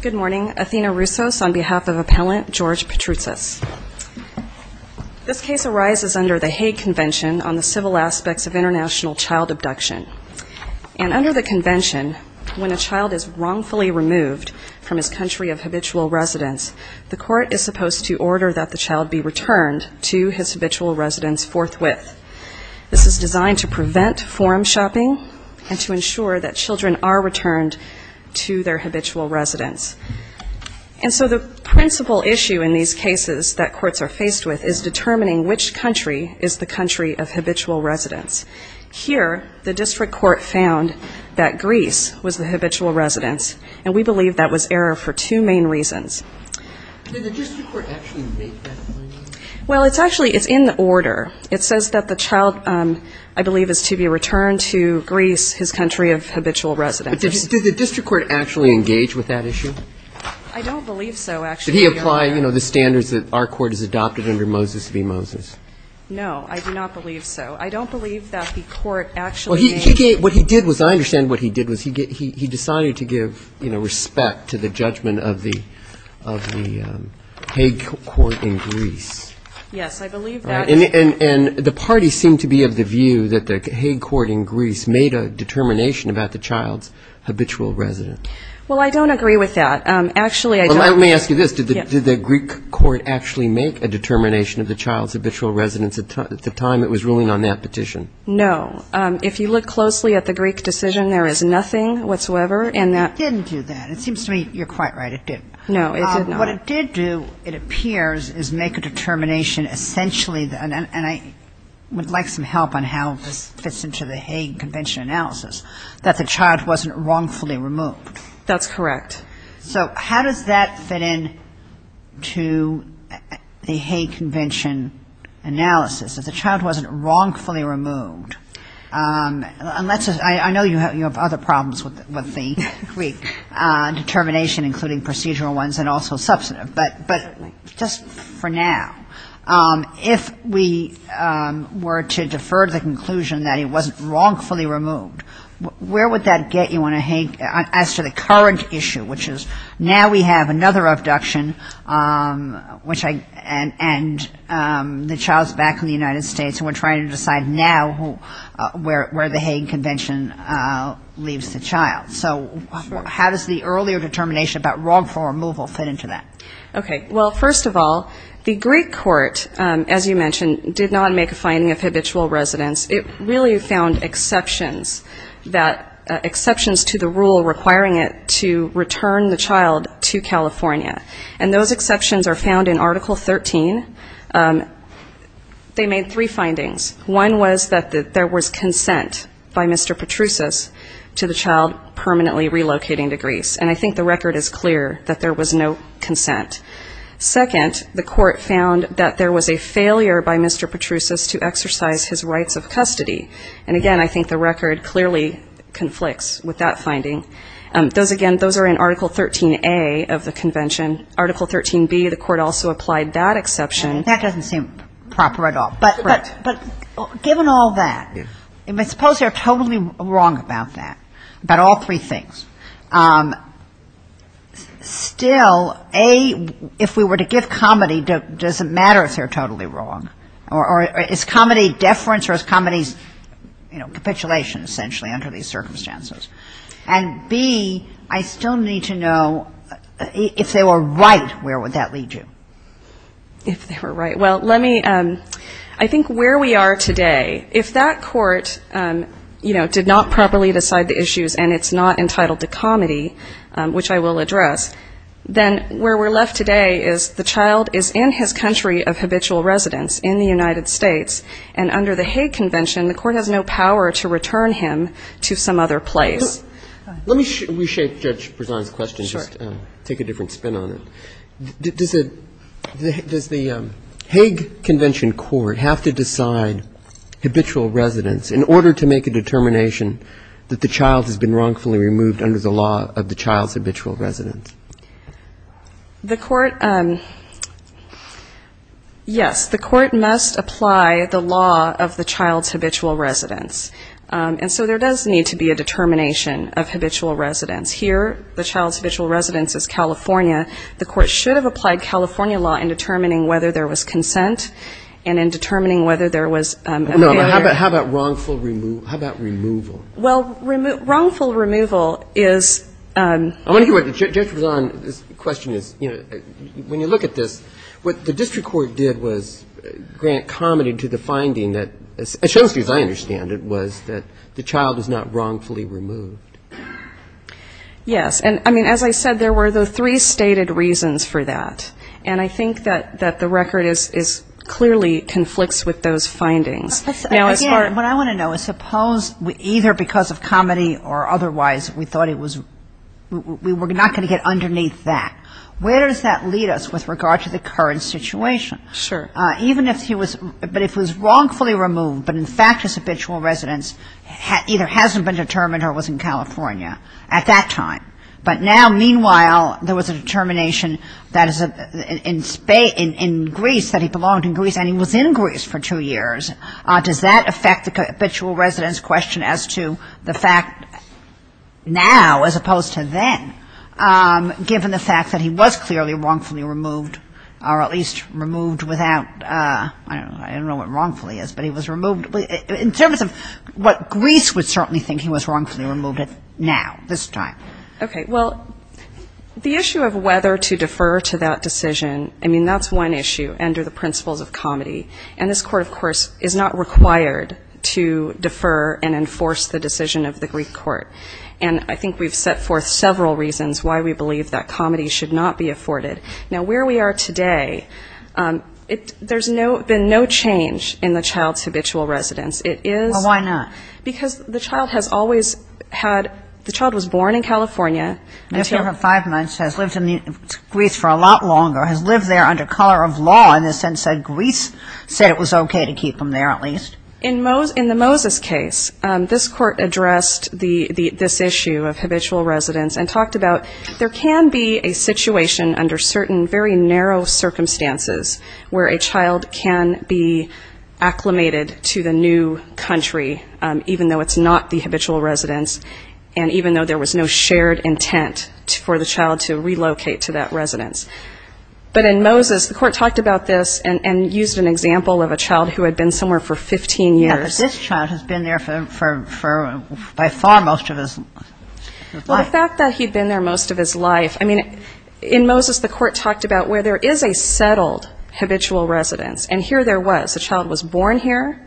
Good morning. Athena Roussos on behalf of Appellant George Petroutsas. This case arises under the Hague Convention on the Civil Aspects of International Child Abduction. And under the convention, when a child is wrongfully removed from his country of habitual residence, the court is supposed to order that the child be returned to his habitual residence forthwith. This is designed to prevent forum shopping and to ensure that children are returned to their habitual residence. And so the principal issue in these cases that courts are faced with is determining which country is the country of habitual residence. Here, the district court found that Greece was the habitual residence, and we believe that was error for two main reasons. Did the district court actually make that point? Well, it's actually in the order. It says that the child, I believe, is to be returned to Greece, his country of habitual residence. But did the district court actually engage with that issue? I don't believe so, actually. Did he apply, you know, the standards that our court has adopted under Moses v. Moses? No, I do not believe so. I don't believe that the court actually made Well, what he did was, I understand what he did was he decided to give, you know, respect to the judgment of the Hague court in Greece. Yes, I believe that And the parties seem to be of the view that the Hague court in Greece made a determination about the child's habitual residence. Well, I don't agree with that. Actually, I don't Well, let me ask you this. Did the Greek court actually make a determination of the child's habitual residence at the time it was ruling on that petition? No. If you look closely at the Greek decision, there is nothing whatsoever in that Well, it didn't do that. It seems to me you're quite right, it didn't. No, it did not. What it did do, it appears, is make a determination essentially, and I would like some help on how this fits into the Hague Convention analysis, that the child wasn't wrongfully removed. That's correct. So how does that fit in to the Hague Convention analysis? If the child wasn't wrongfully removed, I know you have other problems with the Greek determination, including procedural ones and also substantive, but just for now, if we were to defer to the conclusion that it wasn't wrongfully removed, where would that get you on a Hague, as to the current issue, which is now we have another abduction and the child's back in the United States and we're trying to decide now where the Hague Convention leaves the child. So how does the earlier determination about wrongful removal fit into that? Okay. Well, first of all, the Greek court, as you mentioned, did not make a finding of habitual residence. It really found exceptions to the rule requiring it to return the child to California. And those exceptions are found in Article 13. They made three findings. One was that there was consent by Mr. Petrusas to the child permanently relocating to Greece, and I think the record is clear that there was no consent. Second, the court found that there was a failure by Mr. Petrusas to exercise his rights of custody. And again, I think the record clearly conflicts with that finding. Those again, those are in Article 13A of the convention. Article 13B, the court also applied that exception. And that doesn't seem proper at all, but given all that, suppose they're totally wrong about that, about all three things. Still, A, if we were to give comedy, does it matter if they're totally wrong? Or is comedy deference or is comedy, you know, capitulation essentially under these circumstances? And B, I still need to know if they were right, where would that lead you? If they were right. Well, let me, I think where we are today, if that court, you know, did not properly decide the issues and it's not entitled to comedy, which I will address, then where we're left today is the child is in his country of habitual residence in the law of the child's habitual residence. And so there does seem to be a problem with that. And I think the court should be able to apply that to some other place. Let me reshape Judge Prezan's question, just take a different spin on it. Does the Hague Convention Court have to decide habitual residence in order to make a determination that the child has been wrongfully removed under the law of the child's habitual residence? The court, yes, the court must apply the law of the child's habitual residence. And so there does need to be a determination of habitual residence. Here, the child's habitual residence is California. The court should have applied California law in determining whether there was consent and in determining whether there was a failure. No, but how about wrongful removal? How about removal? Well, wrongful removal is... I want to hear what Judge Prezan's question is. You know, when you look at this, what the district court did was grant comedy to the finding that, as I understand it, was that the child was not wrongfully removed. Yes. And, I mean, as I said, there were the three stated reasons for that. And I think that the record is clearly conflicts with those findings. Now, as far as... Again, what I want to know is suppose either because of comedy or otherwise we thought it was... we were not going to get underneath that. Where does that lead us with regard to the current situation? Sure. Even if he was... but if he was wrongfully removed, but in fact his habitual residence either hasn't been determined or was in California at that time, but now, meanwhile, there was a determination that in Greece, that he belonged in Greece, and he was in Greece for two years, does that affect the habitual residence question as to the fact that now, as opposed to then, given the fact that he was clearly wrongfully removed, or at least removed without... I don't know what wrongfully is, but he was removed... in terms of what Greece would certainly think he was wrongfully removed at now, this time. Okay. Well, the issue of whether to defer to that decision, I mean, that's one issue under the principles of comedy. And this Court, of course, is not required to defer and enforce the decision of the Greek Court. And I think we've set forth several reasons why we believe that comedy should not be afforded. Now, where we are today, it... there's no... been no change in the child's habitual residence. It is... Well, why not? Because the child has always had... the child was born in California until... The child of five months has lived in Greece for a lot longer, has lived there under color of law in the sense that Greece said it was okay to keep him there at least. In the Moses case, this Court addressed this issue of habitual residence and talked about there can be a situation under certain very narrow circumstances where a child can be acclimated to the new country, even though it's not the habitual residence, and even though there was no shared intent for the child to relocate to that residence. But in Moses, the Court talked about this and used an example of a child who had been somewhere for 15 years. Yeah, but this child has been there for... by far most of his life. Well, the fact that he'd been there most of his life... I mean, in Moses, the Court talked about where there is a settled habitual residence, and here there was. The child was born here,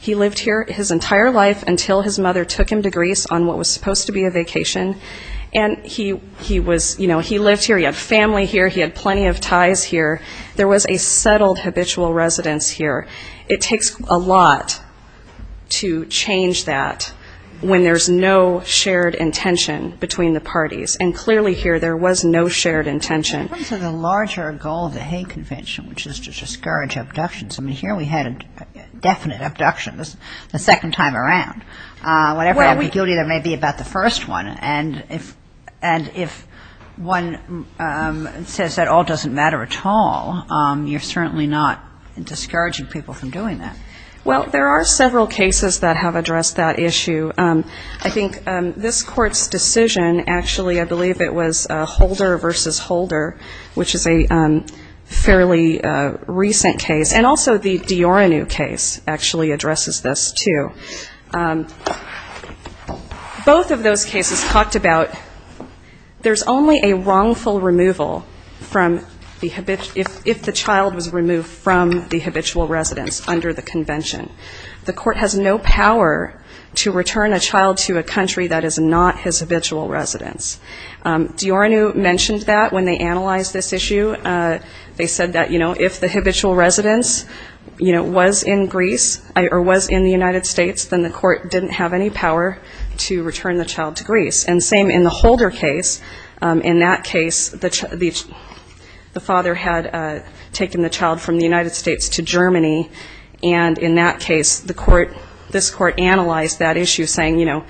he lived here his entire life until his mother took him to Greece on what was supposed to be a vacation, and he was... you know, he lived here, he had family here, he had plenty of ties here, there was a settled habitual residence here. It takes a lot to change that when there's no shared intention between the parties, and clearly here there was no shared intention. In terms of the larger goal of the Hague Convention, which is to discourage abductions, I mean, here we had a definite abduction the second time around. Whatever ambiguity there may be about the first one, and if one says that all doesn't matter at all, you're certainly not discouraging people from doing that. Well, there are several cases that have addressed that issue. I think this Court's decision, actually, I believe it was Holder v. Holder, which is a fairly recent case, and also the Hague Convention, both of those cases talked about there's only a wrongful removal if the child was removed from the habitual residence under the Convention. The Court has no power to return a child to a country that is not his habitual residence. Dioranou mentioned that when they analyzed this issue. They said that, you know, if the father had taken the child from the United States to Germany, and in that case, this Court analyzed that issue, saying, you know,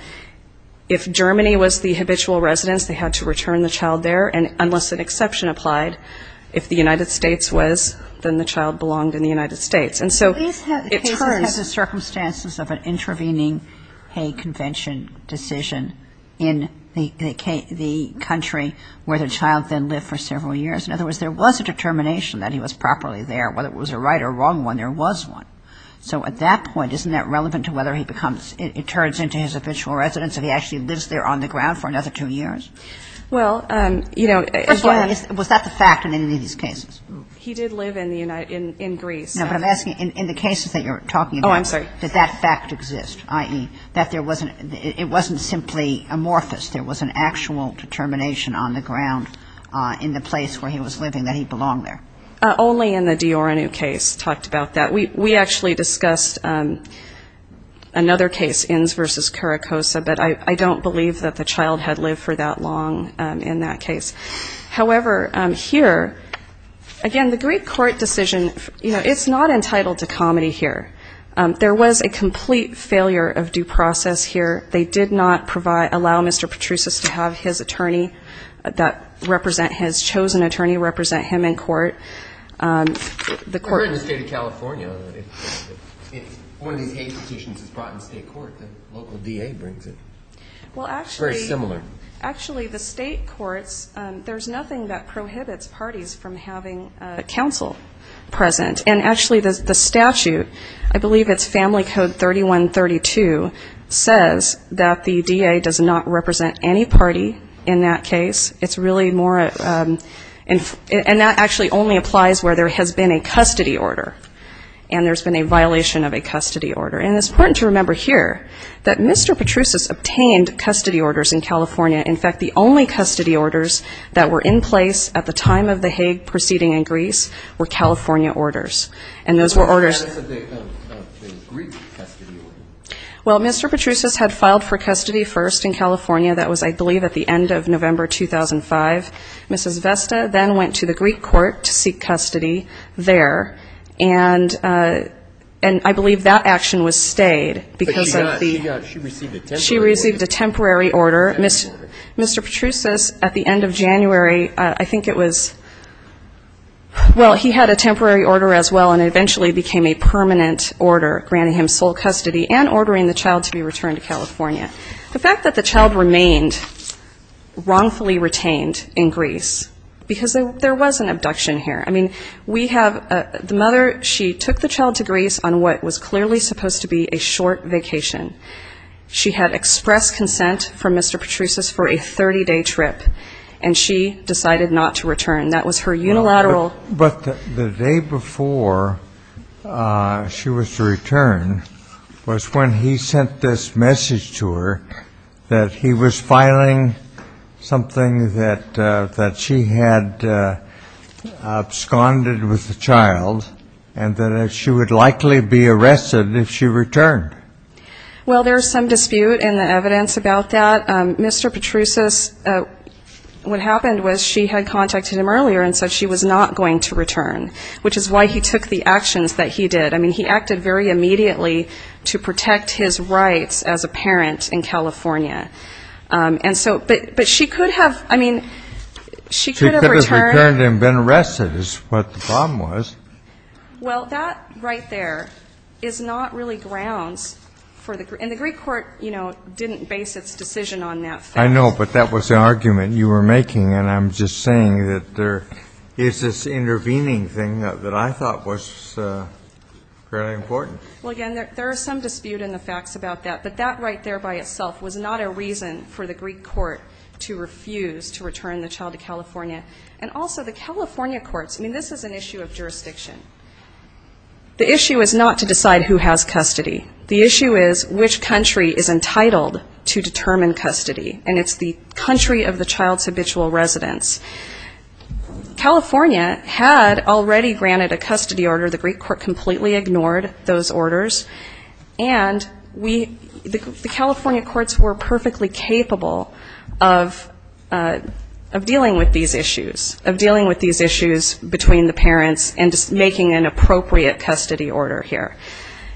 if Germany was the habitual residence, they had to return the child there, and unless an exception applied, if the United States was, then the child belonged in the United States. And so it turns to circumstances of an intervening Hague Convention decision in the country where the child then lived for several years. In other words, there was a determination that he was properly there. Whether it was a right or wrong one, there was one. So at that point, isn't that relevant to whether he becomes ‑‑ it turns into his habitual residence if he actually lives there on the ground for another two years? Well, you know, first of all ‑‑ Was that the fact in any of these cases? He did live in Greece. No, but I'm asking, in the cases that you're talking about, did that fact exist? Oh, I'm sorry. I.e., that there wasn't ‑‑ it wasn't simply amorphous. There was an actual determination on the ground in the place where he was living that he belonged there. Only in the Dioranou case talked about that. We actually discussed another case, Inns v. Caracossa, but I don't believe that the child had lived for that long in that case. However, here, again, the Greek Court decision, you know, it's not entitled to comedy here. There was a complete failure of due process here. They did not allow Mr. Petrusas to have his attorney that represent his chosen attorney represent him in court. I heard in the state of California, if one of these hate petitions is brought in state court, the local DA brings it. Well, actually ‑‑ Very similar. Actually, the state courts, there's nothing that prohibits parties from having counsel present. And actually, the statute, I believe it's family code 3132, says that the DA does not represent any party in that case. It's really more ‑‑ and that actually only applies where there has been a custody order and there's been a violation of a custody order. And it's important to remember here that Mr. Petrusas obtained custody orders in California. In fact, the only custody orders that were in place at the time of the Hague proceeding in Greece were California orders. And those were orders ‑‑ But what about the Greek custody order? Well, Mr. Petrusas had filed for custody first in California. That was, I believe, at the end of November 2005. Mrs. Vesta then went to the Greek court to seek custody there. And I believe that action was stayed because of the ‑‑ But she got ‑‑ she received a temporary order. Mr. Petrusas, at the end of January, I think it was ‑‑ well, he had a temporary order as well and it eventually became a permanent order, granting him sole custody and ordering the child to be returned to California. The fact that the child remained wrongfully retained in Greece, because there was an abduction here. I mean, we have ‑‑ the mother, she took the child to Greece on what was clearly supposed to be a short vacation. She had expressed consent from Mr. Petrusas for a 30‑day trip. And she decided not to return. That was her unilateral ‑‑ But the day before she was to return was when he sent this message to her that he was filing something that she had absconded with the child and that she would likely be arrested if she returned. Well, there's some dispute in the evidence about that. Mr. Petrusas, what happened was she had contacted him earlier and said she was not going to return, which is why he took the actions that he did. I mean, he acted very immediately to protect his rights as a parent in California. And so ‑‑ but she could have ‑‑ I mean, she could have returned ‑‑ She could have returned and been arrested is what the problem was. Well, that right there is not really grounds for the ‑‑ and the Greek court, you know, didn't base its decision on that fact. I know, but that was the argument you were making. And I'm just saying that there is this intervening thing that I thought was fairly important. Well, again, there is some dispute in the facts about that. But that right there by itself was not a reason for the Greek court to refuse to return the child to the institution. The issue is not to decide who has custody. The issue is which country is entitled to determine custody. And it's the country of the child's habitual residence. California had already granted a custody order. The Greek court completely ignored those orders. And we ‑‑ the California courts were perfectly capable of dealing with these issues, of dealing with these issues between the two countries, making an appropriate custody order here.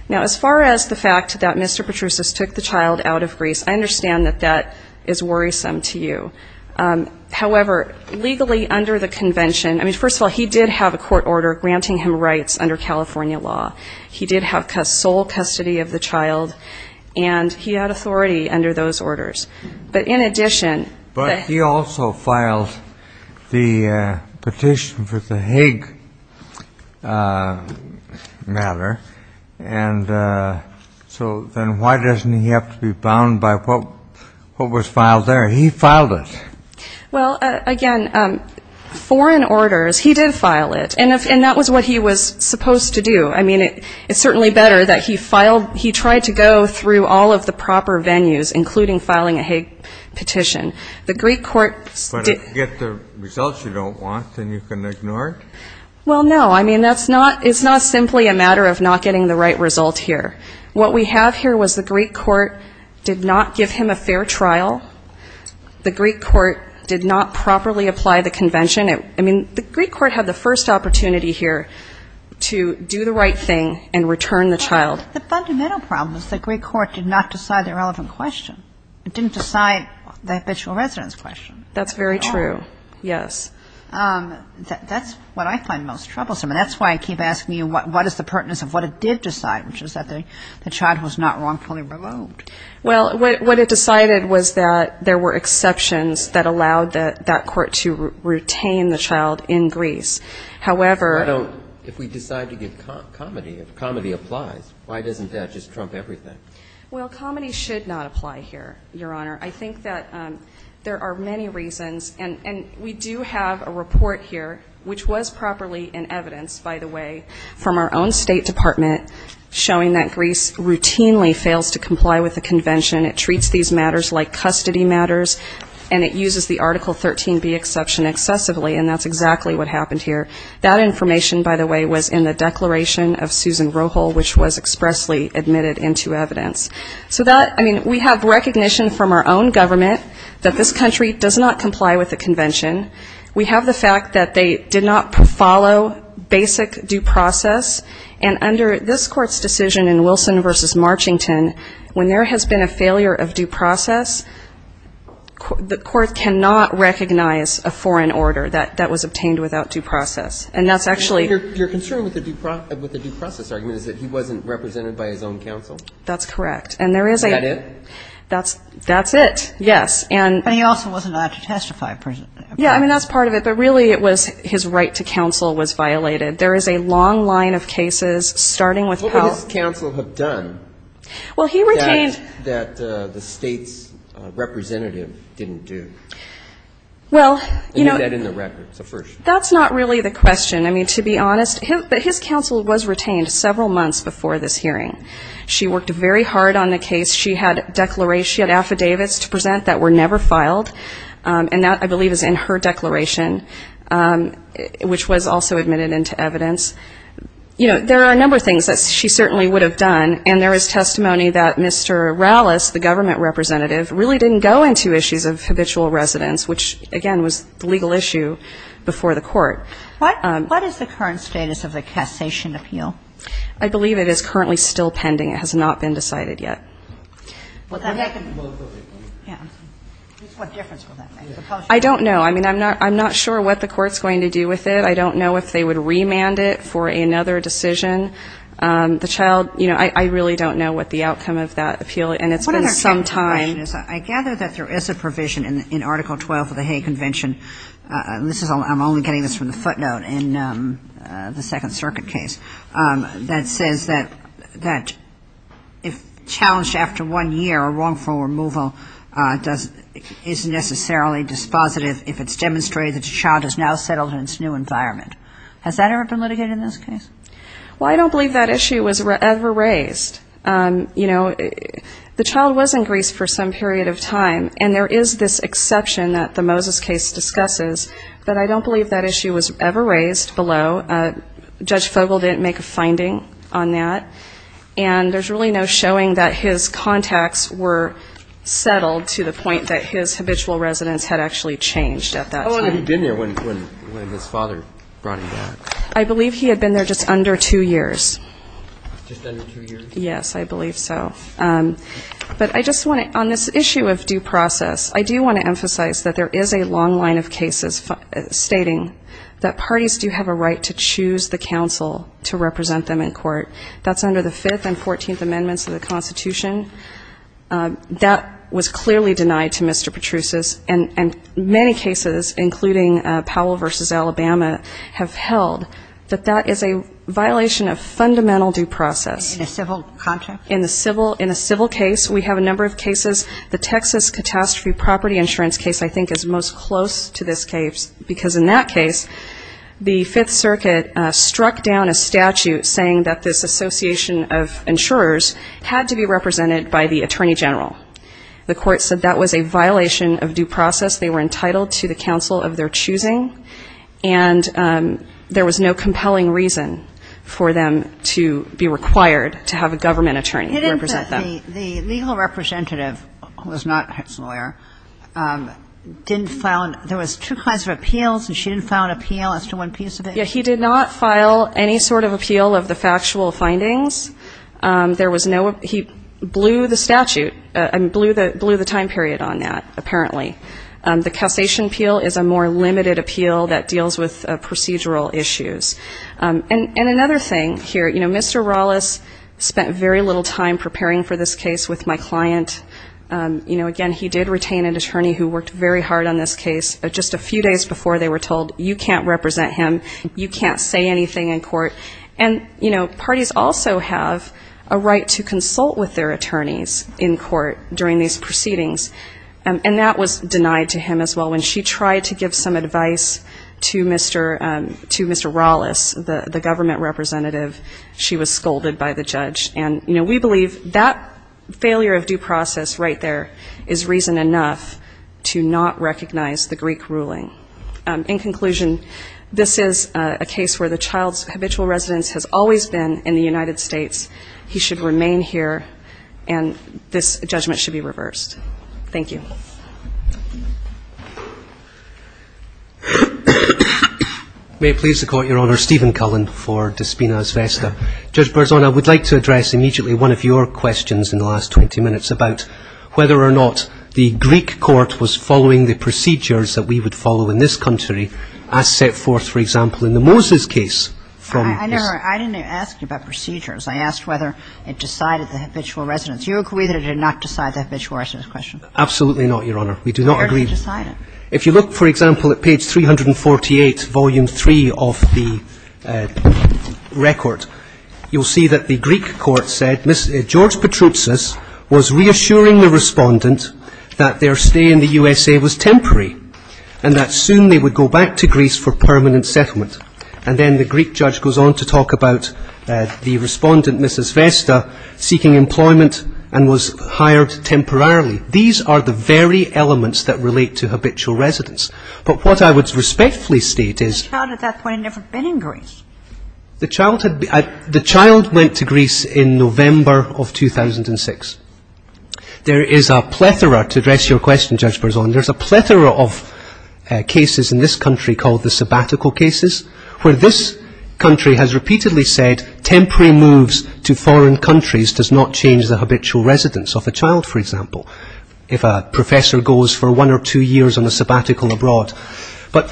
Now, as far as the fact that Mr. Petrusas took the child out of Greece, I understand that that is worrisome to you. However, legally under the convention, I mean, first of all, he did have a court order granting him rights under California law. He did have sole custody of the child. And he had authority under those orders. But in addition ‑‑ But he also filed the petition for the Hague matter. And so then why doesn't he have to be bound by what was filed there? He filed it. Well, again, foreign orders, he did file it. And that was what he was supposed to do. I mean, it's certainly better that he filed ‑‑ he tried to go through all of the proper venues, including filing a Hague petition. But if you get the results you don't want, then you can ignore it? Well, no. I mean, that's not ‑‑ it's not simply a matter of not getting the right result here. What we have here was the Greek court did not give him a fair trial. The Greek court did not properly apply the convention. I mean, the Greek court had the first opportunity here to do the right thing and return the child. But the fundamental problem is the Greek court did not decide the relevant question. It didn't decide the habitual residence question. That's very true, yes. That's what I find most troublesome. And that's why I keep asking you what is the pertinence of what it did decide, which is that the child was not wrongfully removed. Well, what it decided was that there were exceptions that allowed that court to retain the child in Greece. However ‑‑ I don't ‑‑ if we decide to give comedy, if comedy applies, why doesn't that just trump everything? Well, comedy should not apply here, Your Honor. I think that there are many reasons. And we do have a report here, which was properly in evidence, by the way, from our own government, that this country does not comply with the convention. It treats these matters like custody matters, and it uses the Article 13B exception excessively. And that's exactly what happened here. That information, by the way, was in the declaration of Susan Roehl, which was expressly admitted into evidence. So that ‑‑ I mean, we have recognition from our own government that this country does not comply with the convention. We have the fact that they did not follow basic due process. And under this court's decision in Wilson v. Marchington, when there has been a failure of due process, the court cannot recognize a foreign order that was obtained without due process. And that's actually ‑‑ Your concern with the due process argument is that he wasn't represented by his own counsel? That's correct. And there is a ‑‑ Is that it? That's it, yes. But he also wasn't allowed to testify. Yeah, I mean, that's part of it. But really it was his right to counsel was violated. There is a long line of cases, starting with ‑‑ What would his counsel have done that the state's representative didn't do? Well, you know ‑‑ And do that in the record. So first. That's not really the question. I mean, to be honest, but his counsel was retained several months before this hearing. She worked very hard on the case. She had declarations, she had affidavits to present that were negative. She never filed. And that, I believe, is in her declaration, which was also admitted into evidence. You know, there are a number of things that she certainly would have done. And there is testimony that Mr. Rallis, the government representative, really didn't go into issues of habitual residence, which, again, was the legal issue before the court. What is the current status of the cassation appeal? I believe it is currently still pending. It has not been decided yet. What difference will that make? I don't know. I mean, I'm not sure what the court is going to do with it. I don't know if they would remand it for another decision. The child, you know, I really don't know what the outcome of that appeal, and it's been some time. One other technical question is I gather that there is a provision in Article 12 of the Hague Convention. I'm only getting this from the footnote in the Second Circuit case, that says a wrongful removal is necessarily dispositive if it's demonstrated that the child is now settled in its new environment. Has that ever been litigated in this case? Well, I don't believe that issue was ever raised. You know, the child was in Greece for some period of time, and there is this exception that the Moses case discusses, but I don't believe that issue was ever raised below. Judge Fogel didn't make a finding on that. And there's really no showing that his case was ever raised. His contacts were settled to the point that his habitual residence had actually changed at that time. How long had he been there when his father brought him back? I believe he had been there just under two years. Just under two years? Yes, I believe so. But I just want to, on this issue of due process, I do want to emphasize that there is a long line of cases stating that parties do have a right to choose the counsel to represent them in court. That's under the Fifth and Fourteenth Amendments of the Constitution. That was clearly denied to Mr. Petrusius. And many cases, including Powell v. Alabama, have held that that is a violation of fundamental due process. In a civil contract? In a civil case. We have a number of cases. The Texas catastrophe property insurance case, I think, is most close to this case, because in that case, the Fifth Circuit struck down a statute saying that this association of insurers had to be represented by the attorney general. The court said that was a violation of due process. They were entitled to the counsel of their choosing, and there was no compelling reason for them to be required to have a government attorney represent them. The legal representative, who was not Hicks's lawyer, didn't file an – there was two kinds of appeals, and she didn't file an appeal as to one piece of it? Yeah. He did not file any sort of appeal of the factual findings. There was no – he blew the statute – I mean, blew the time period on that, apparently. The cassation appeal is a more limited appeal that deals with procedural issues. And another thing here, you know, Mr. Rawless spent very little time preparing for this case with my client. You know, again, he did retain an attorney who worked very hard on this case just a few days before they were told, you can't represent him, you can't say anything in court. And, you know, parties also have a right to consult with their attorneys in court during these proceedings. And that was denied to him as well. When she tried to give some advice to Mr. Rawless, the government representative, she was scolded by the judge. And, you know, we believe that failure of due process right there is reason enough to not recognize the Greek ruling. In conclusion, this is a case where the child's habitual residence has always been in the United States. He should remain here. And this judgment should be reversed. Thank you. May it please the Court, Your Honor. Stephen Cullen for Dispenas Vesta. Judge Berzon, I would like to address immediately one of your questions in the last 20 minutes about whether or not the Greek court was following the procedures that we would follow in this country as set forth, for example, in the Moses case from this ---- I didn't ask you about procedures. I asked whether it decided the habitual residence. Do you agree that it did not decide the habitual residence question? Absolutely not, Your Honor. We do not agree. Where did it decide it? If you look, for example, at page 348, volume 3 of the record, you'll see that the Greek judge goes on to talk about the respondent, Mrs. Vesta, seeking employment and was hired temporarily. These are the very elements that relate to habitual residence. But what I would respectfully state is ---- The child at that point had never been in Greece. These are the very elements that relate to habitual residence. There is a plethora, to address your question, Judge Berzon, there's a plethora of cases in this country called the sabbatical cases, where this country has repeatedly said temporary moves to foreign countries does not change the habitual residence of a child, for example, if a professor goes for one or two years on a sabbatical abroad. But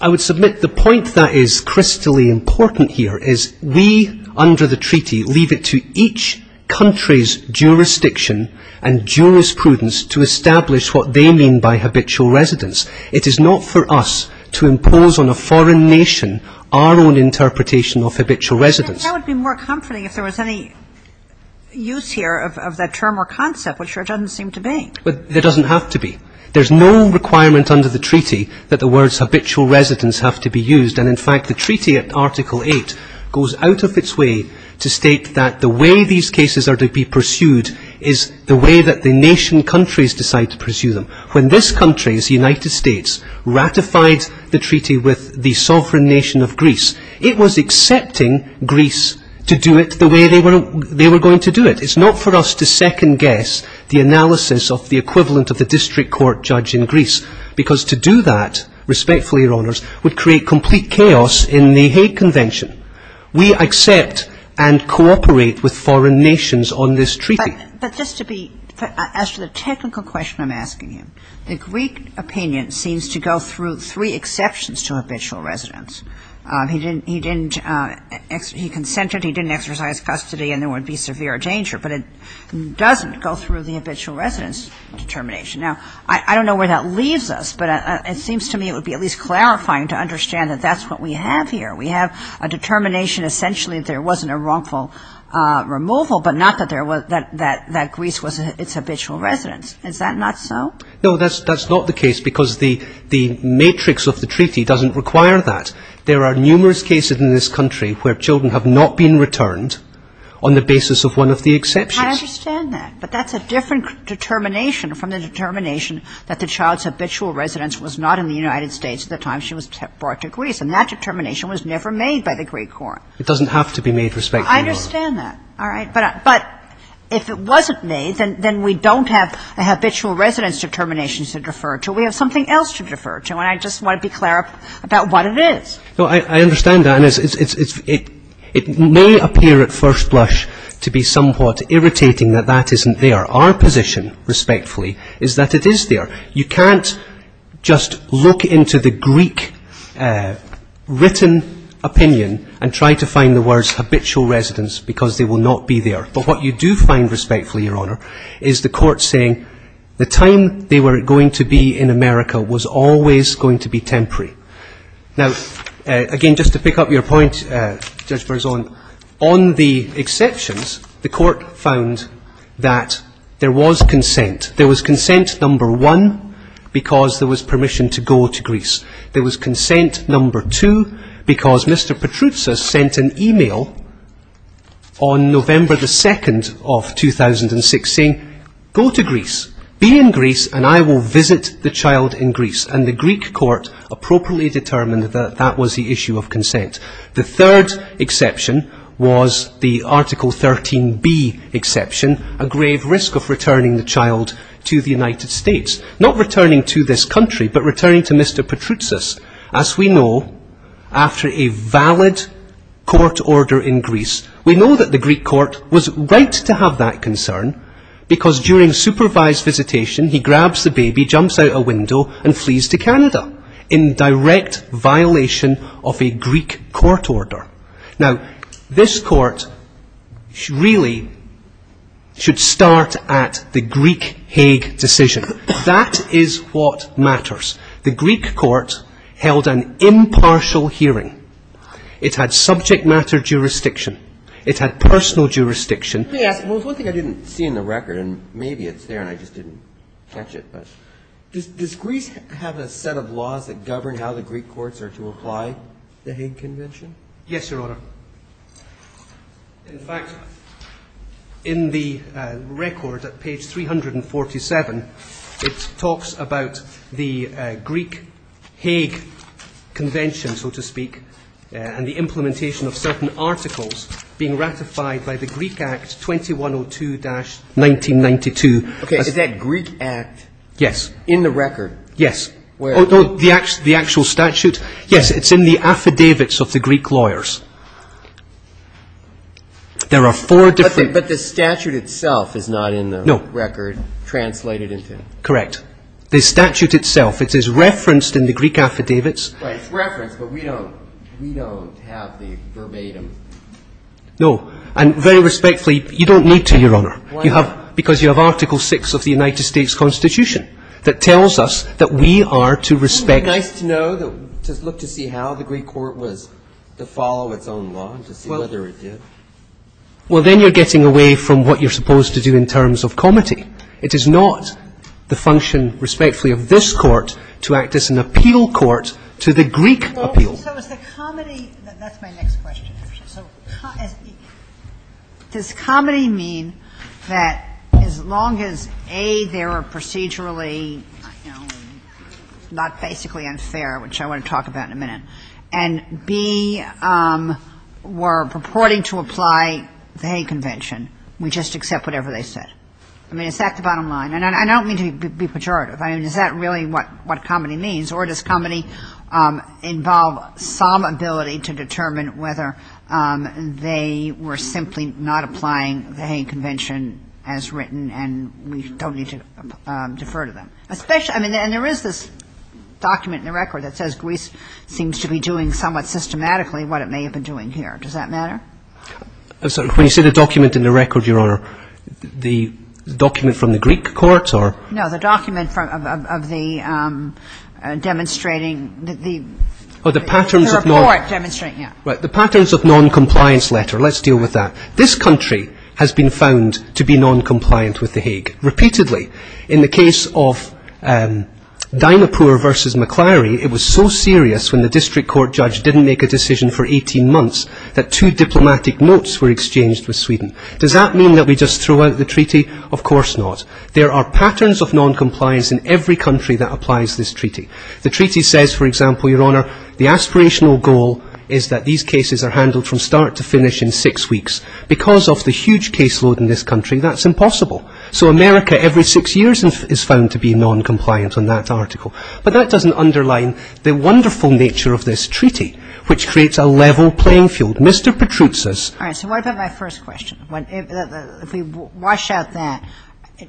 I would submit the point that is crystally important here is we, under the treaty, leave it to each country's jurisdiction and jurisprudence to establish what they mean by habitual residence. It is not for us to impose on a foreign nation our own interpretation of habitual residence. That would be more comforting if there was any use here of that term or concept, which there doesn't seem to be. There doesn't have to be. There's no requirement under the treaty that the words habitual residence have to be used. And, in fact, the treaty at Article 8 goes out of its way to state that the way these cases are to be pursued is the way that the nation countries decide to pursue them. When this country, the United States, ratified the treaty with the sovereign nation of Greece, it was accepting Greece to do it the way they were going to do it. It's not for us to second-guess the analysis of the equivalent of the district court judge in Greece, because to do that, respectfully, Your Honors, would create complete chaos in the Hague Convention. We accept and cooperate with foreign nations on this treaty. But just to be as to the technical question I'm asking you, the Greek opinion seems to go through three exceptions to habitual residence. He consented, he didn't exercise custody, and there would be severe danger, but it doesn't go through the habitual residence determination. Now, I don't know where that leaves us, but it seems to me it would be at least clarifying to understand that that's what we have here. We have a determination essentially that there wasn't a wrongful removal, but not that Greece was its habitual residence. Is that not so? No, that's not the case, because the matrix of the treaty doesn't require that. There are numerous cases in this country where children have not been returned on the basis of one of the exceptions. I understand that, but that's a different determination from the determination that the child's habitual residence was not in the United States at the time she was brought to Greece. And that determination was never made by the Greek court. It doesn't have to be made, respectfully. I understand that. All right. But if it wasn't made, then we don't have a habitual residence determination to refer to. We have something else to refer to, and I just want to be clear about what it is. No, I understand that, and it may appear at first blush to be somewhat irritating that that isn't there. Our position, respectfully, is that it is there. You can't just look into the Greek written opinion and try to find the words habitual residence because they will not be there. But what you do find, respectfully, Your Honor, is the court saying the time they were going to be in America was always going to be temporary. Now, again, just to pick up your point, Judge Berzon, on the exceptions, the court found that there was consent. There was consent, number one, because there was permission to go to Greece. There was consent, number two, because Mr. Petroutsas sent an e-mail on November 2nd of 2006 saying, Go to Greece, be in Greece, and I will visit the child in Greece. And the Greek court appropriately determined that that was the issue of consent. The third exception was the Article 13b exception, a grave risk of returning the child to the United States. Not returning to this country, but returning to Mr. Petroutsas. As we know, after a valid court order in Greece, we know that the Greek court was right to have that concern because during supervised visitation he grabs the baby, jumps out a window, and flees to Canada in direct violation of a Greek court order. Now, this court really should start at the Greek Hague decision. That is what matters. The Greek court held an impartial hearing. It had subject matter jurisdiction. It had personal jurisdiction. Let me ask you, there was one thing I didn't see in the record, and maybe it's there, and I just didn't catch it. Does Greece have a set of laws that govern how the Greek courts are to apply the Hague Convention? Yes, Your Honor. In fact, in the record at page 347, it talks about the Greek Hague Convention, so to speak, and the implementation of certain articles being ratified by the Greek Act 2102-1992. Okay. Is that Greek Act? Yes. In the record? Yes. Where? The actual statute? Yes. It's in the affidavits of the Greek lawyers. There are four different – But the statute itself is not in the record translated into – No. Correct. The statute itself, it is referenced in the Greek affidavits. Right. It's referenced, but we don't have the verbatim – No. And very respectfully, you don't need to, Your Honor. Why not? Because you have Article VI of the United States Constitution that tells us that we are to respect – It would be nice to know, to look to see how the Greek court was to follow its own law and to see whether it did. Well, then you're getting away from what you're supposed to do in terms of comity. It is not the function, respectfully, of this court to act as an appeal court to the Greek appeal. So is the comity – that's my next question. So does comity mean that as long as, A, there are procedurally, you know, not basically unfair, which I want to talk about in a minute, and, B, we're purporting to apply the Hague Convention, we just accept whatever they said? I mean, is that the bottom line? And I don't mean to be pejorative. I mean, is that really what comity means? Or does comity involve some ability to determine whether they were simply not applying the Hague Convention as written and we don't need to defer to them? Especially – I mean, and there is this document in the record that says Greece seems to be doing somewhat systematically what it may have been doing here. Does that matter? When you say the document in the record, Your Honor, the document from the Greek court or – No, the document of the – demonstrating the – Oh, the patterns of non- The report demonstrating, yeah. Right, the patterns of non-compliance letter. Let's deal with that. This country has been found to be non-compliant with the Hague. Repeatedly. In the case of Dynapur versus Maclary, it was so serious when the district court judge didn't make a decision for 18 months that two diplomatic notes were exchanged with Sweden. Does that mean that we just throw out the treaty? Of course not. There are patterns of non-compliance in every country that applies this treaty. The treaty says, for example, Your Honor, the aspirational goal is that these cases are handled from start to finish in six weeks. Because of the huge caseload in this country, that's impossible. So America, every six years, is found to be non-compliant on that article. But that doesn't underline the wonderful nature of this treaty, which creates a level playing field. Mr. Petruzza's – All right. So what about my first question? If we wash out that,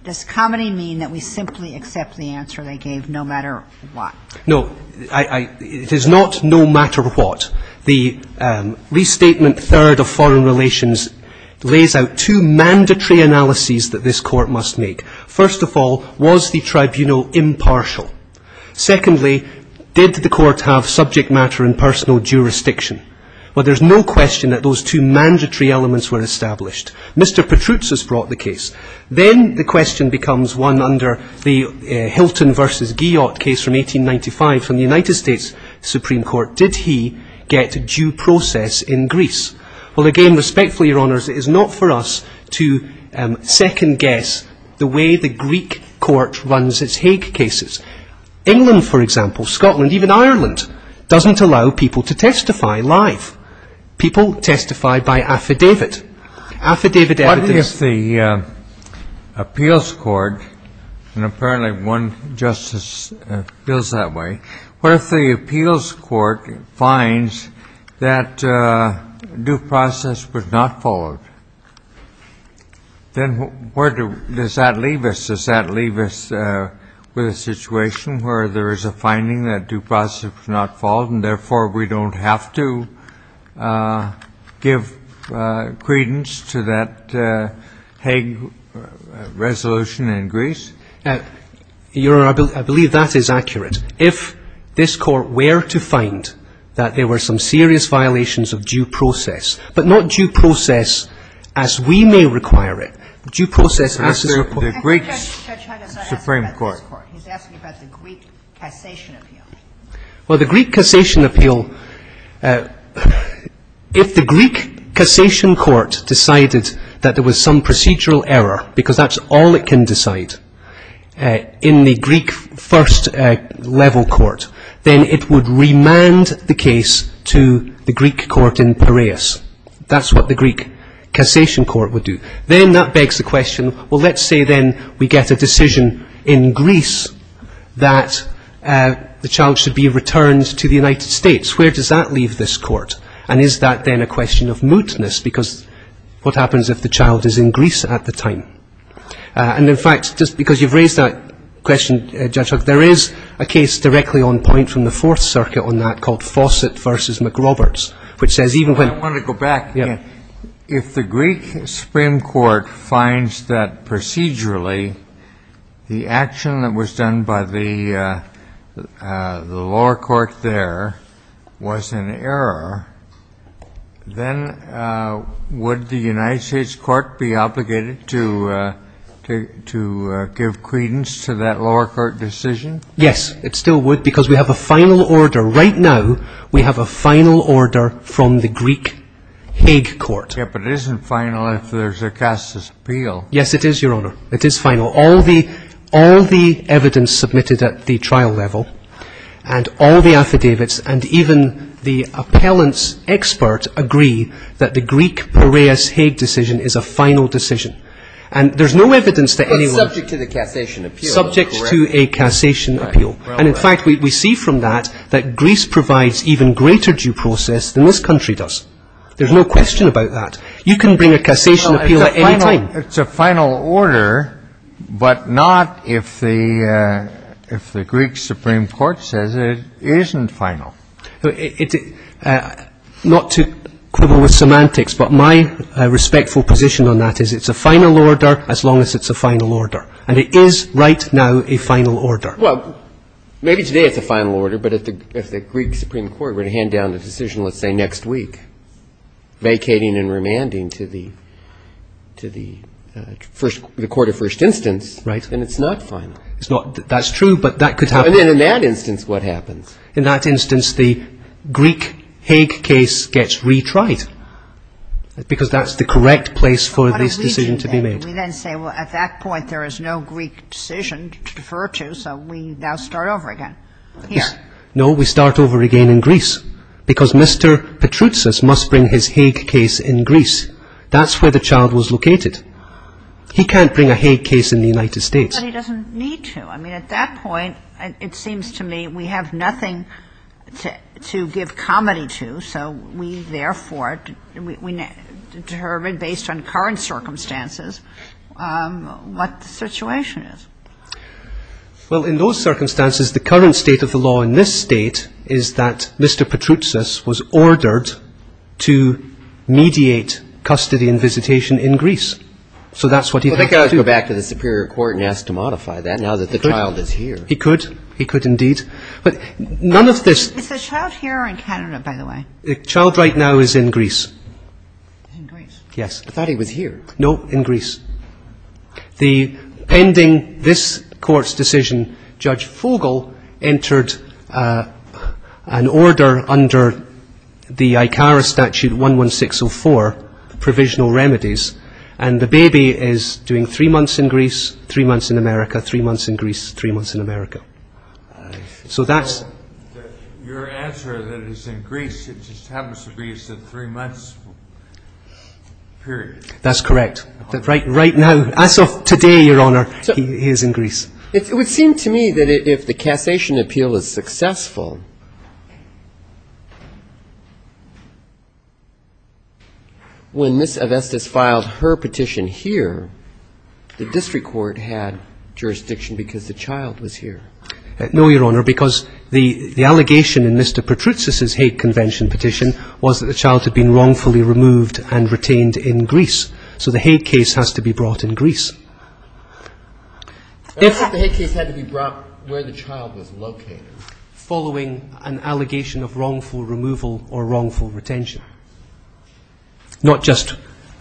does commonly mean that we simply accept the answer they gave no matter what? No. It is not no matter what. The restatement third of foreign relations lays out two mandatory analyses that this court must make. First of all, was the tribunal impartial? Secondly, did the court have subject matter and personal jurisdiction? Well, there's no question that those two mandatory elements were established. Mr. Petruzza's brought the case. Then the question becomes one under the Hilton v. Guyot case from 1895 from the United States Supreme Court. Did he get due process in Greece? Well, again, respectfully, Your Honors, it is not for us to second guess the way the Greek court runs its Hague cases. England, for example, Scotland, even Ireland, doesn't allow people to testify live. People testify by affidavit. Affidavit evidence – What if the appeals court – and apparently one justice feels that way – what if the appeals court finds that due process was not followed? Then where does that leave us? Does that leave us with a situation where there is a finding that due process was not followed and therefore we don't have to give credence to that Hague resolution in Greece? Your Honor, I believe that is accurate. If this court were to find that there were some serious violations of due process, but not due process as we may require it, due process as is – I think Judge Huggins is asking about this court. He's asking about the Greek Cassation Appeal. Well, the Greek Cassation Appeal – if the Greek Cassation Court decided that there was some procedural error, because that's all it can decide in the Greek first-level court, then it would remand the case to the Greek court in Piraeus. That's what the Greek Cassation Court would do. Then that begs the question, well, let's say then we get a decision in Greece that the child should be returned to the United States. Where does that leave this court? And is that then a question of mootness? Because what happens if the child is in Greece at the time? And, in fact, just because you've raised that question, Judge Huggins, there is a case directly on point from the Fourth Circuit on that called Fawcett v. McRoberts, I want to go back. If the Greek Supreme Court finds that procedurally the action that was done by the lower court there was an error, then would the United States court be obligated to give credence to that lower court decision? Yes, it still would, because we have a final order. We have a final order from the Greek Hague Court. Yes, but it isn't final if there's a Cassation appeal. Yes, it is, Your Honor. It is final. All the evidence submitted at the trial level and all the affidavits and even the appellant's expert agree that the Greek Piraeus Hague decision is a final decision. And there's no evidence that anyone — But subject to the Cassation appeal, correct? Subject to a Cassation appeal. And, in fact, we see from that that Greece provides even greater due process than this country does. There's no question about that. You can bring a Cassation appeal at any time. It's a final order, but not if the Greek Supreme Court says it isn't final. Not to quibble with semantics, but my respectful position on that is it's a final order as long as it's a final order. And it is right now a final order. Well, maybe today it's a final order, but if the Greek Supreme Court were to hand down the decision, let's say, next week, vacating and remanding to the court of first instance, then it's not final. That's true, but that could happen. And in that instance, what happens? In that instance, the Greek Hague case gets retried because that's the correct place for this decision to be made. We then say, well, at that point, there is no Greek decision to defer to, so we now start over again. Here. No, we start over again in Greece because Mr. Petroutsas must bring his Hague case in Greece. That's where the child was located. He can't bring a Hague case in the United States. But he doesn't need to. I mean, at that point, it seems to me we have nothing to give comedy to, so we therefore determine, based on current circumstances, what the situation is. Well, in those circumstances, the current state of the law in this state is that Mr. Petroutsas was ordered to mediate custody and visitation in Greece. So that's what he'd have to do. Well, they could always go back to the superior court and ask to modify that now that the child is here. He could. He could, indeed. But none of this — Is the child here or in Canada, by the way? The child right now is in Greece. In Greece? Yes. I thought he was here. No, in Greece. The — pending this court's decision, Judge Fogel entered an order under the ICARA statute 11604, provisional remedies, and the baby is doing three months in Greece, three months in America, three months in Greece, three months in America. So that's — Your answer that it is in Greece, it just happens to be it's a three-month period. That's correct. Right now, as of today, Your Honor, he is in Greece. It would seem to me that if the cassation appeal is successful, when Ms. Avestis filed her petition here, the district court had jurisdiction because the child was here. No, Your Honor, because the allegation in Mr. Petroutsis' Hague Convention petition was that the child had been wrongfully removed and retained in Greece. So the Hague case has to be brought in Greece. The Hague case had to be brought where the child was located. Following an allegation of wrongful removal or wrongful retention. Not just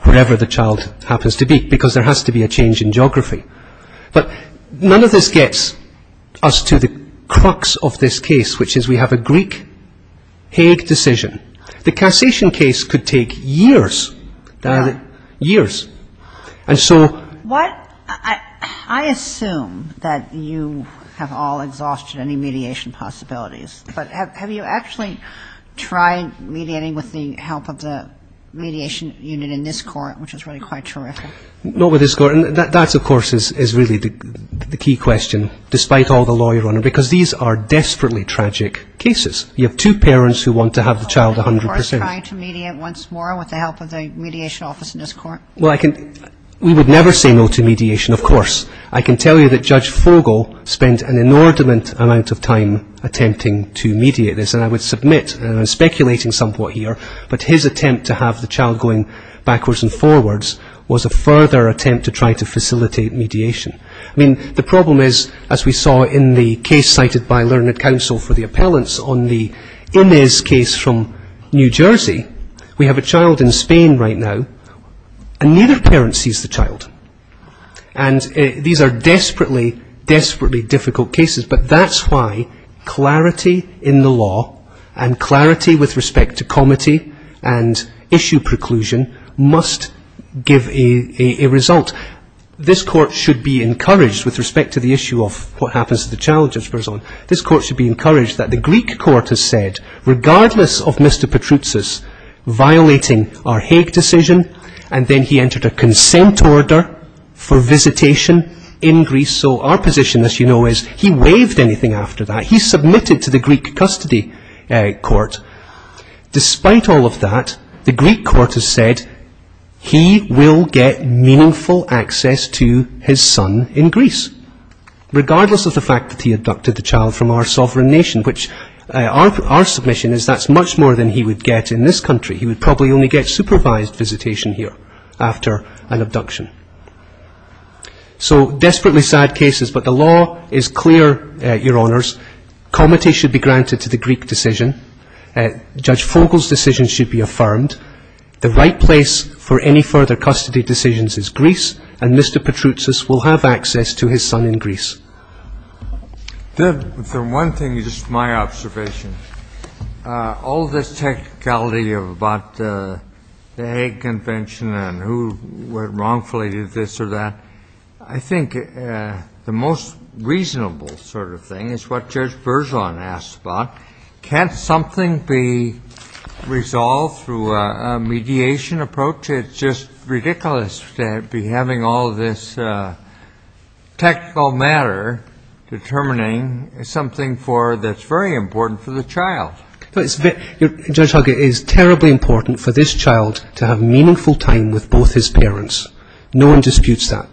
wherever the child happens to be, because there has to be a change in geography. But none of this gets us to the crux of this case, which is we have a Greek Hague decision. The cassation case could take years. Years. And so — I assume that you have all exhausted any mediation possibilities. But have you actually tried mediating with the help of the mediation unit in this court, which is really quite terrific? Not with this court. And that, of course, is really the key question, despite all the law, Your Honor, because these are desperately tragic cases. You have two parents who want to have the child 100 percent. Are you, of course, trying to mediate once more with the help of the mediation office in this court? Well, I can — we would never say no to mediation, of course. I can tell you that Judge Fogle spent an inordinate amount of time attempting to mediate this. And I would submit, and I'm speculating somewhat here, but his attempt to have the child going backwards and forwards was a further attempt to try to facilitate mediation. I mean, the problem is, as we saw in the case cited by Learned Counsel for the appellants on the Inez case from New Jersey, we have a child in Spain right now, and neither parent sees the child. And these are desperately, desperately difficult cases. But that's why clarity in the law and clarity with respect to comity and issue preclusion must give a result. This court should be encouraged with respect to the issue of what happens to the child, Judge Berzon. This court should be encouraged that the Greek court has said, regardless of Mr. Patroutsas violating our Hague decision, and then he entered a consent order for visitation in Greece. So our position, as you know, is he waived anything after that. He submitted to the Greek custody court. Despite all of that, the Greek court has said he will get meaningful access to his son in Greece, regardless of the fact that he abducted the child from our sovereign nation, which our submission is that's much more than he would get in this country. He would probably only get supervised visitation here after an abduction. So desperately sad cases, but the law is clear, Your Honors. Comity should be granted to the Greek decision. Judge Fogle's decision should be affirmed. The right place for any further custody decisions is Greece, and Mr. Patroutsas will have access to his son in Greece. The one thing is just my observation. All this technicality about the Hague Convention and who wrongfully did this or that, I think the most reasonable sort of thing is what Judge Berzon asked about. Can't something be resolved through a mediation approach? It's just ridiculous to be having all this technical matter determining something that's very important for the child. Judge Hogg, it is terribly important for this child to have meaningful time with both his parents. No one disputes that.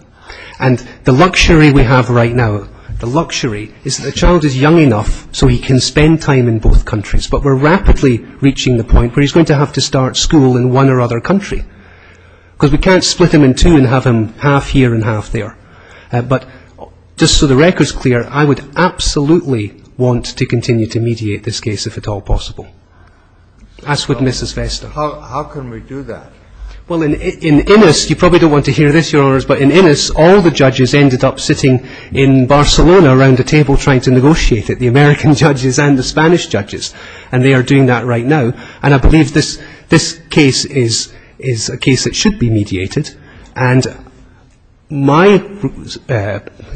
And the luxury we have right now, the luxury is the child is young enough so he can spend time in both countries, but we're rapidly reaching the point where he's going to have to start school in one or other country, because we can't split him in two and have him half here and half there. But just so the record's clear, I would absolutely want to continue to mediate this case if at all possible, as would Mrs. Vesta. How can we do that? Well, in Innis, you probably don't want to hear this, Your Honors, but in Innis all the judges ended up sitting in Barcelona around a table trying to negotiate it, the American judges and the Spanish judges, and they are doing that right now. And I believe this case is a case that should be mediated. And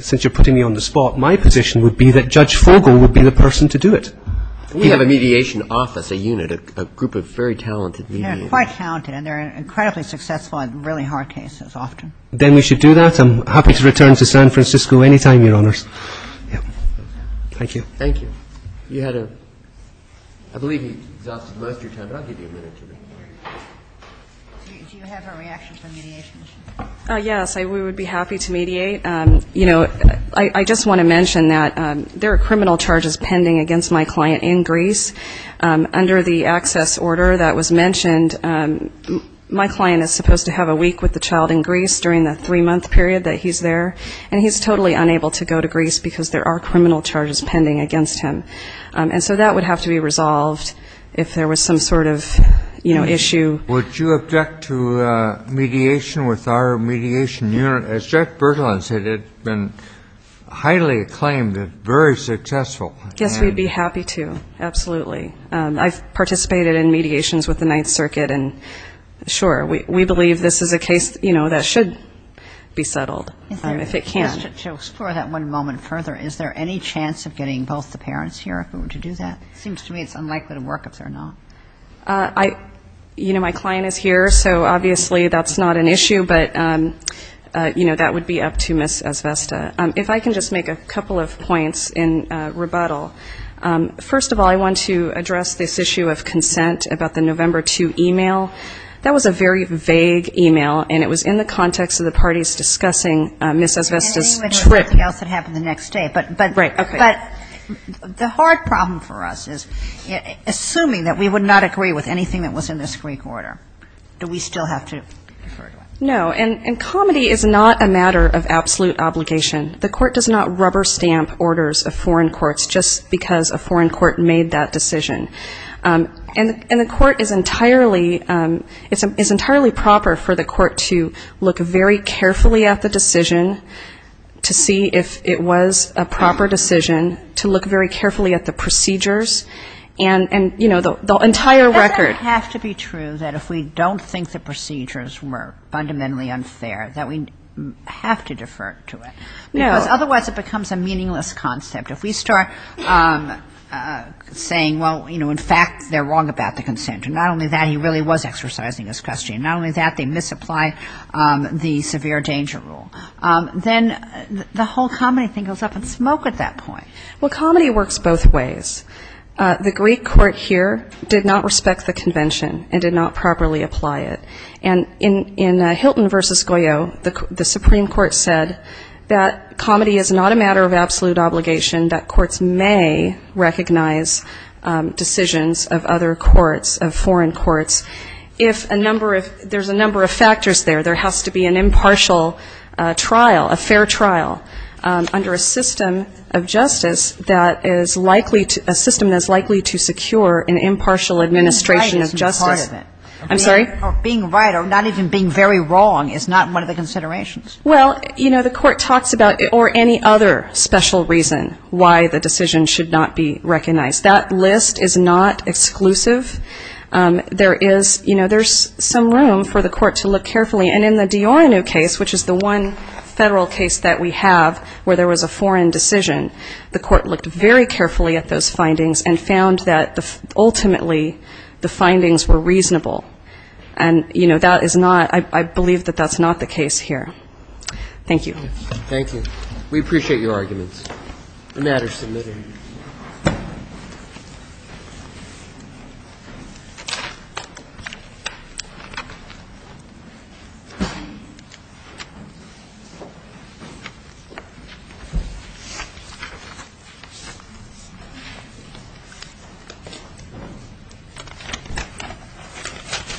since you're putting me on the spot, my position would be that Judge Fogel would be the person to do it. We have a mediation office, a unit, a group of very talented mediators. They're quite talented, and they're incredibly successful in really hard cases often. Then we should do that. I'm happy to return to San Francisco any time, Your Honors. Thank you. Thank you. You had a ‑‑ I believe he exhausted most of your time, but I'll give you a minute. Do you have a reaction for mediation? Yes, we would be happy to mediate. You know, I just want to mention that there are criminal charges pending against my client in Greece. Under the access order that was mentioned, my client is supposed to have a week with the child in Greece during the three-month period that he's there, and he's totally unable to go to Greece because there are criminal charges pending against him. And so that would have to be resolved if there was some sort of, you know, issue. Would you object to mediation with our mediation unit? As Judge Bergelin said, it's been highly acclaimed and very successful. Yes, we'd be happy to, absolutely. I've participated in mediations with the Ninth Circuit, and, sure, we believe this is a case, you know, that should be settled. If it can. To explore that one moment further, is there any chance of getting both the parents here if we were to do that? It seems to me it's unlikely to work if they're not. You know, my client is here, so obviously that's not an issue, but, you know, that would be up to Ms. Esvesta. If I can just make a couple of points in rebuttal. First of all, I want to address this issue of consent about the November 2 email. That was a very vague email, and it was in the context of the parties discussing Ms. Esvesta's trip. And anything else that happened the next day. Right, okay. But the hard problem for us is, assuming that we would not agree with anything that was in this Greek order, do we still have to refer to it? No, and comedy is not a matter of absolute obligation. The Court does not rubber stamp orders of foreign courts just because a foreign court made that decision. And the Court is entirely proper for the Court to look very carefully at the decision, to see if it was a proper decision, to look very carefully at the procedures and, you know, the entire record. Doesn't it have to be true that if we don't think the procedures were fundamentally unfair that we have to defer to it? No. Because otherwise it becomes a meaningless concept. If we start saying, well, you know, in fact, they're wrong about the consent, and not only that, he really was exercising his custody. And not only that, they misapply the severe danger rule. Then the whole comedy thing goes up in smoke at that point. Well, comedy works both ways. The Greek court here did not respect the convention and did not properly apply it. And in Hilton v. Goyot, the Supreme Court said that comedy is not a matter of absolute obligation, that courts may recognize decisions of other courts, of foreign courts, if a number of ‑‑ there's a number of factors there. There has to be an impartial trial, a fair trial under a system of justice that is likely to ‑‑ a system that is likely to secure an impartial administration of justice. I'm sorry? Being right or not even being very wrong is not one of the considerations. Well, you know, the court talks about ‑‑ or any other special reason why the decision should not be recognized. That list is not exclusive. There is ‑‑ you know, there's some room for the court to look carefully. And in the Diorano case, which is the one Federal case that we have where there was a foreign decision, the court looked very carefully at those findings and found that ultimately the findings were reasonable. And, you know, that is not ‑‑ I believe that that's not the case here. Thank you. Thank you. We appreciate your arguments. The matter is submitted. Thank you.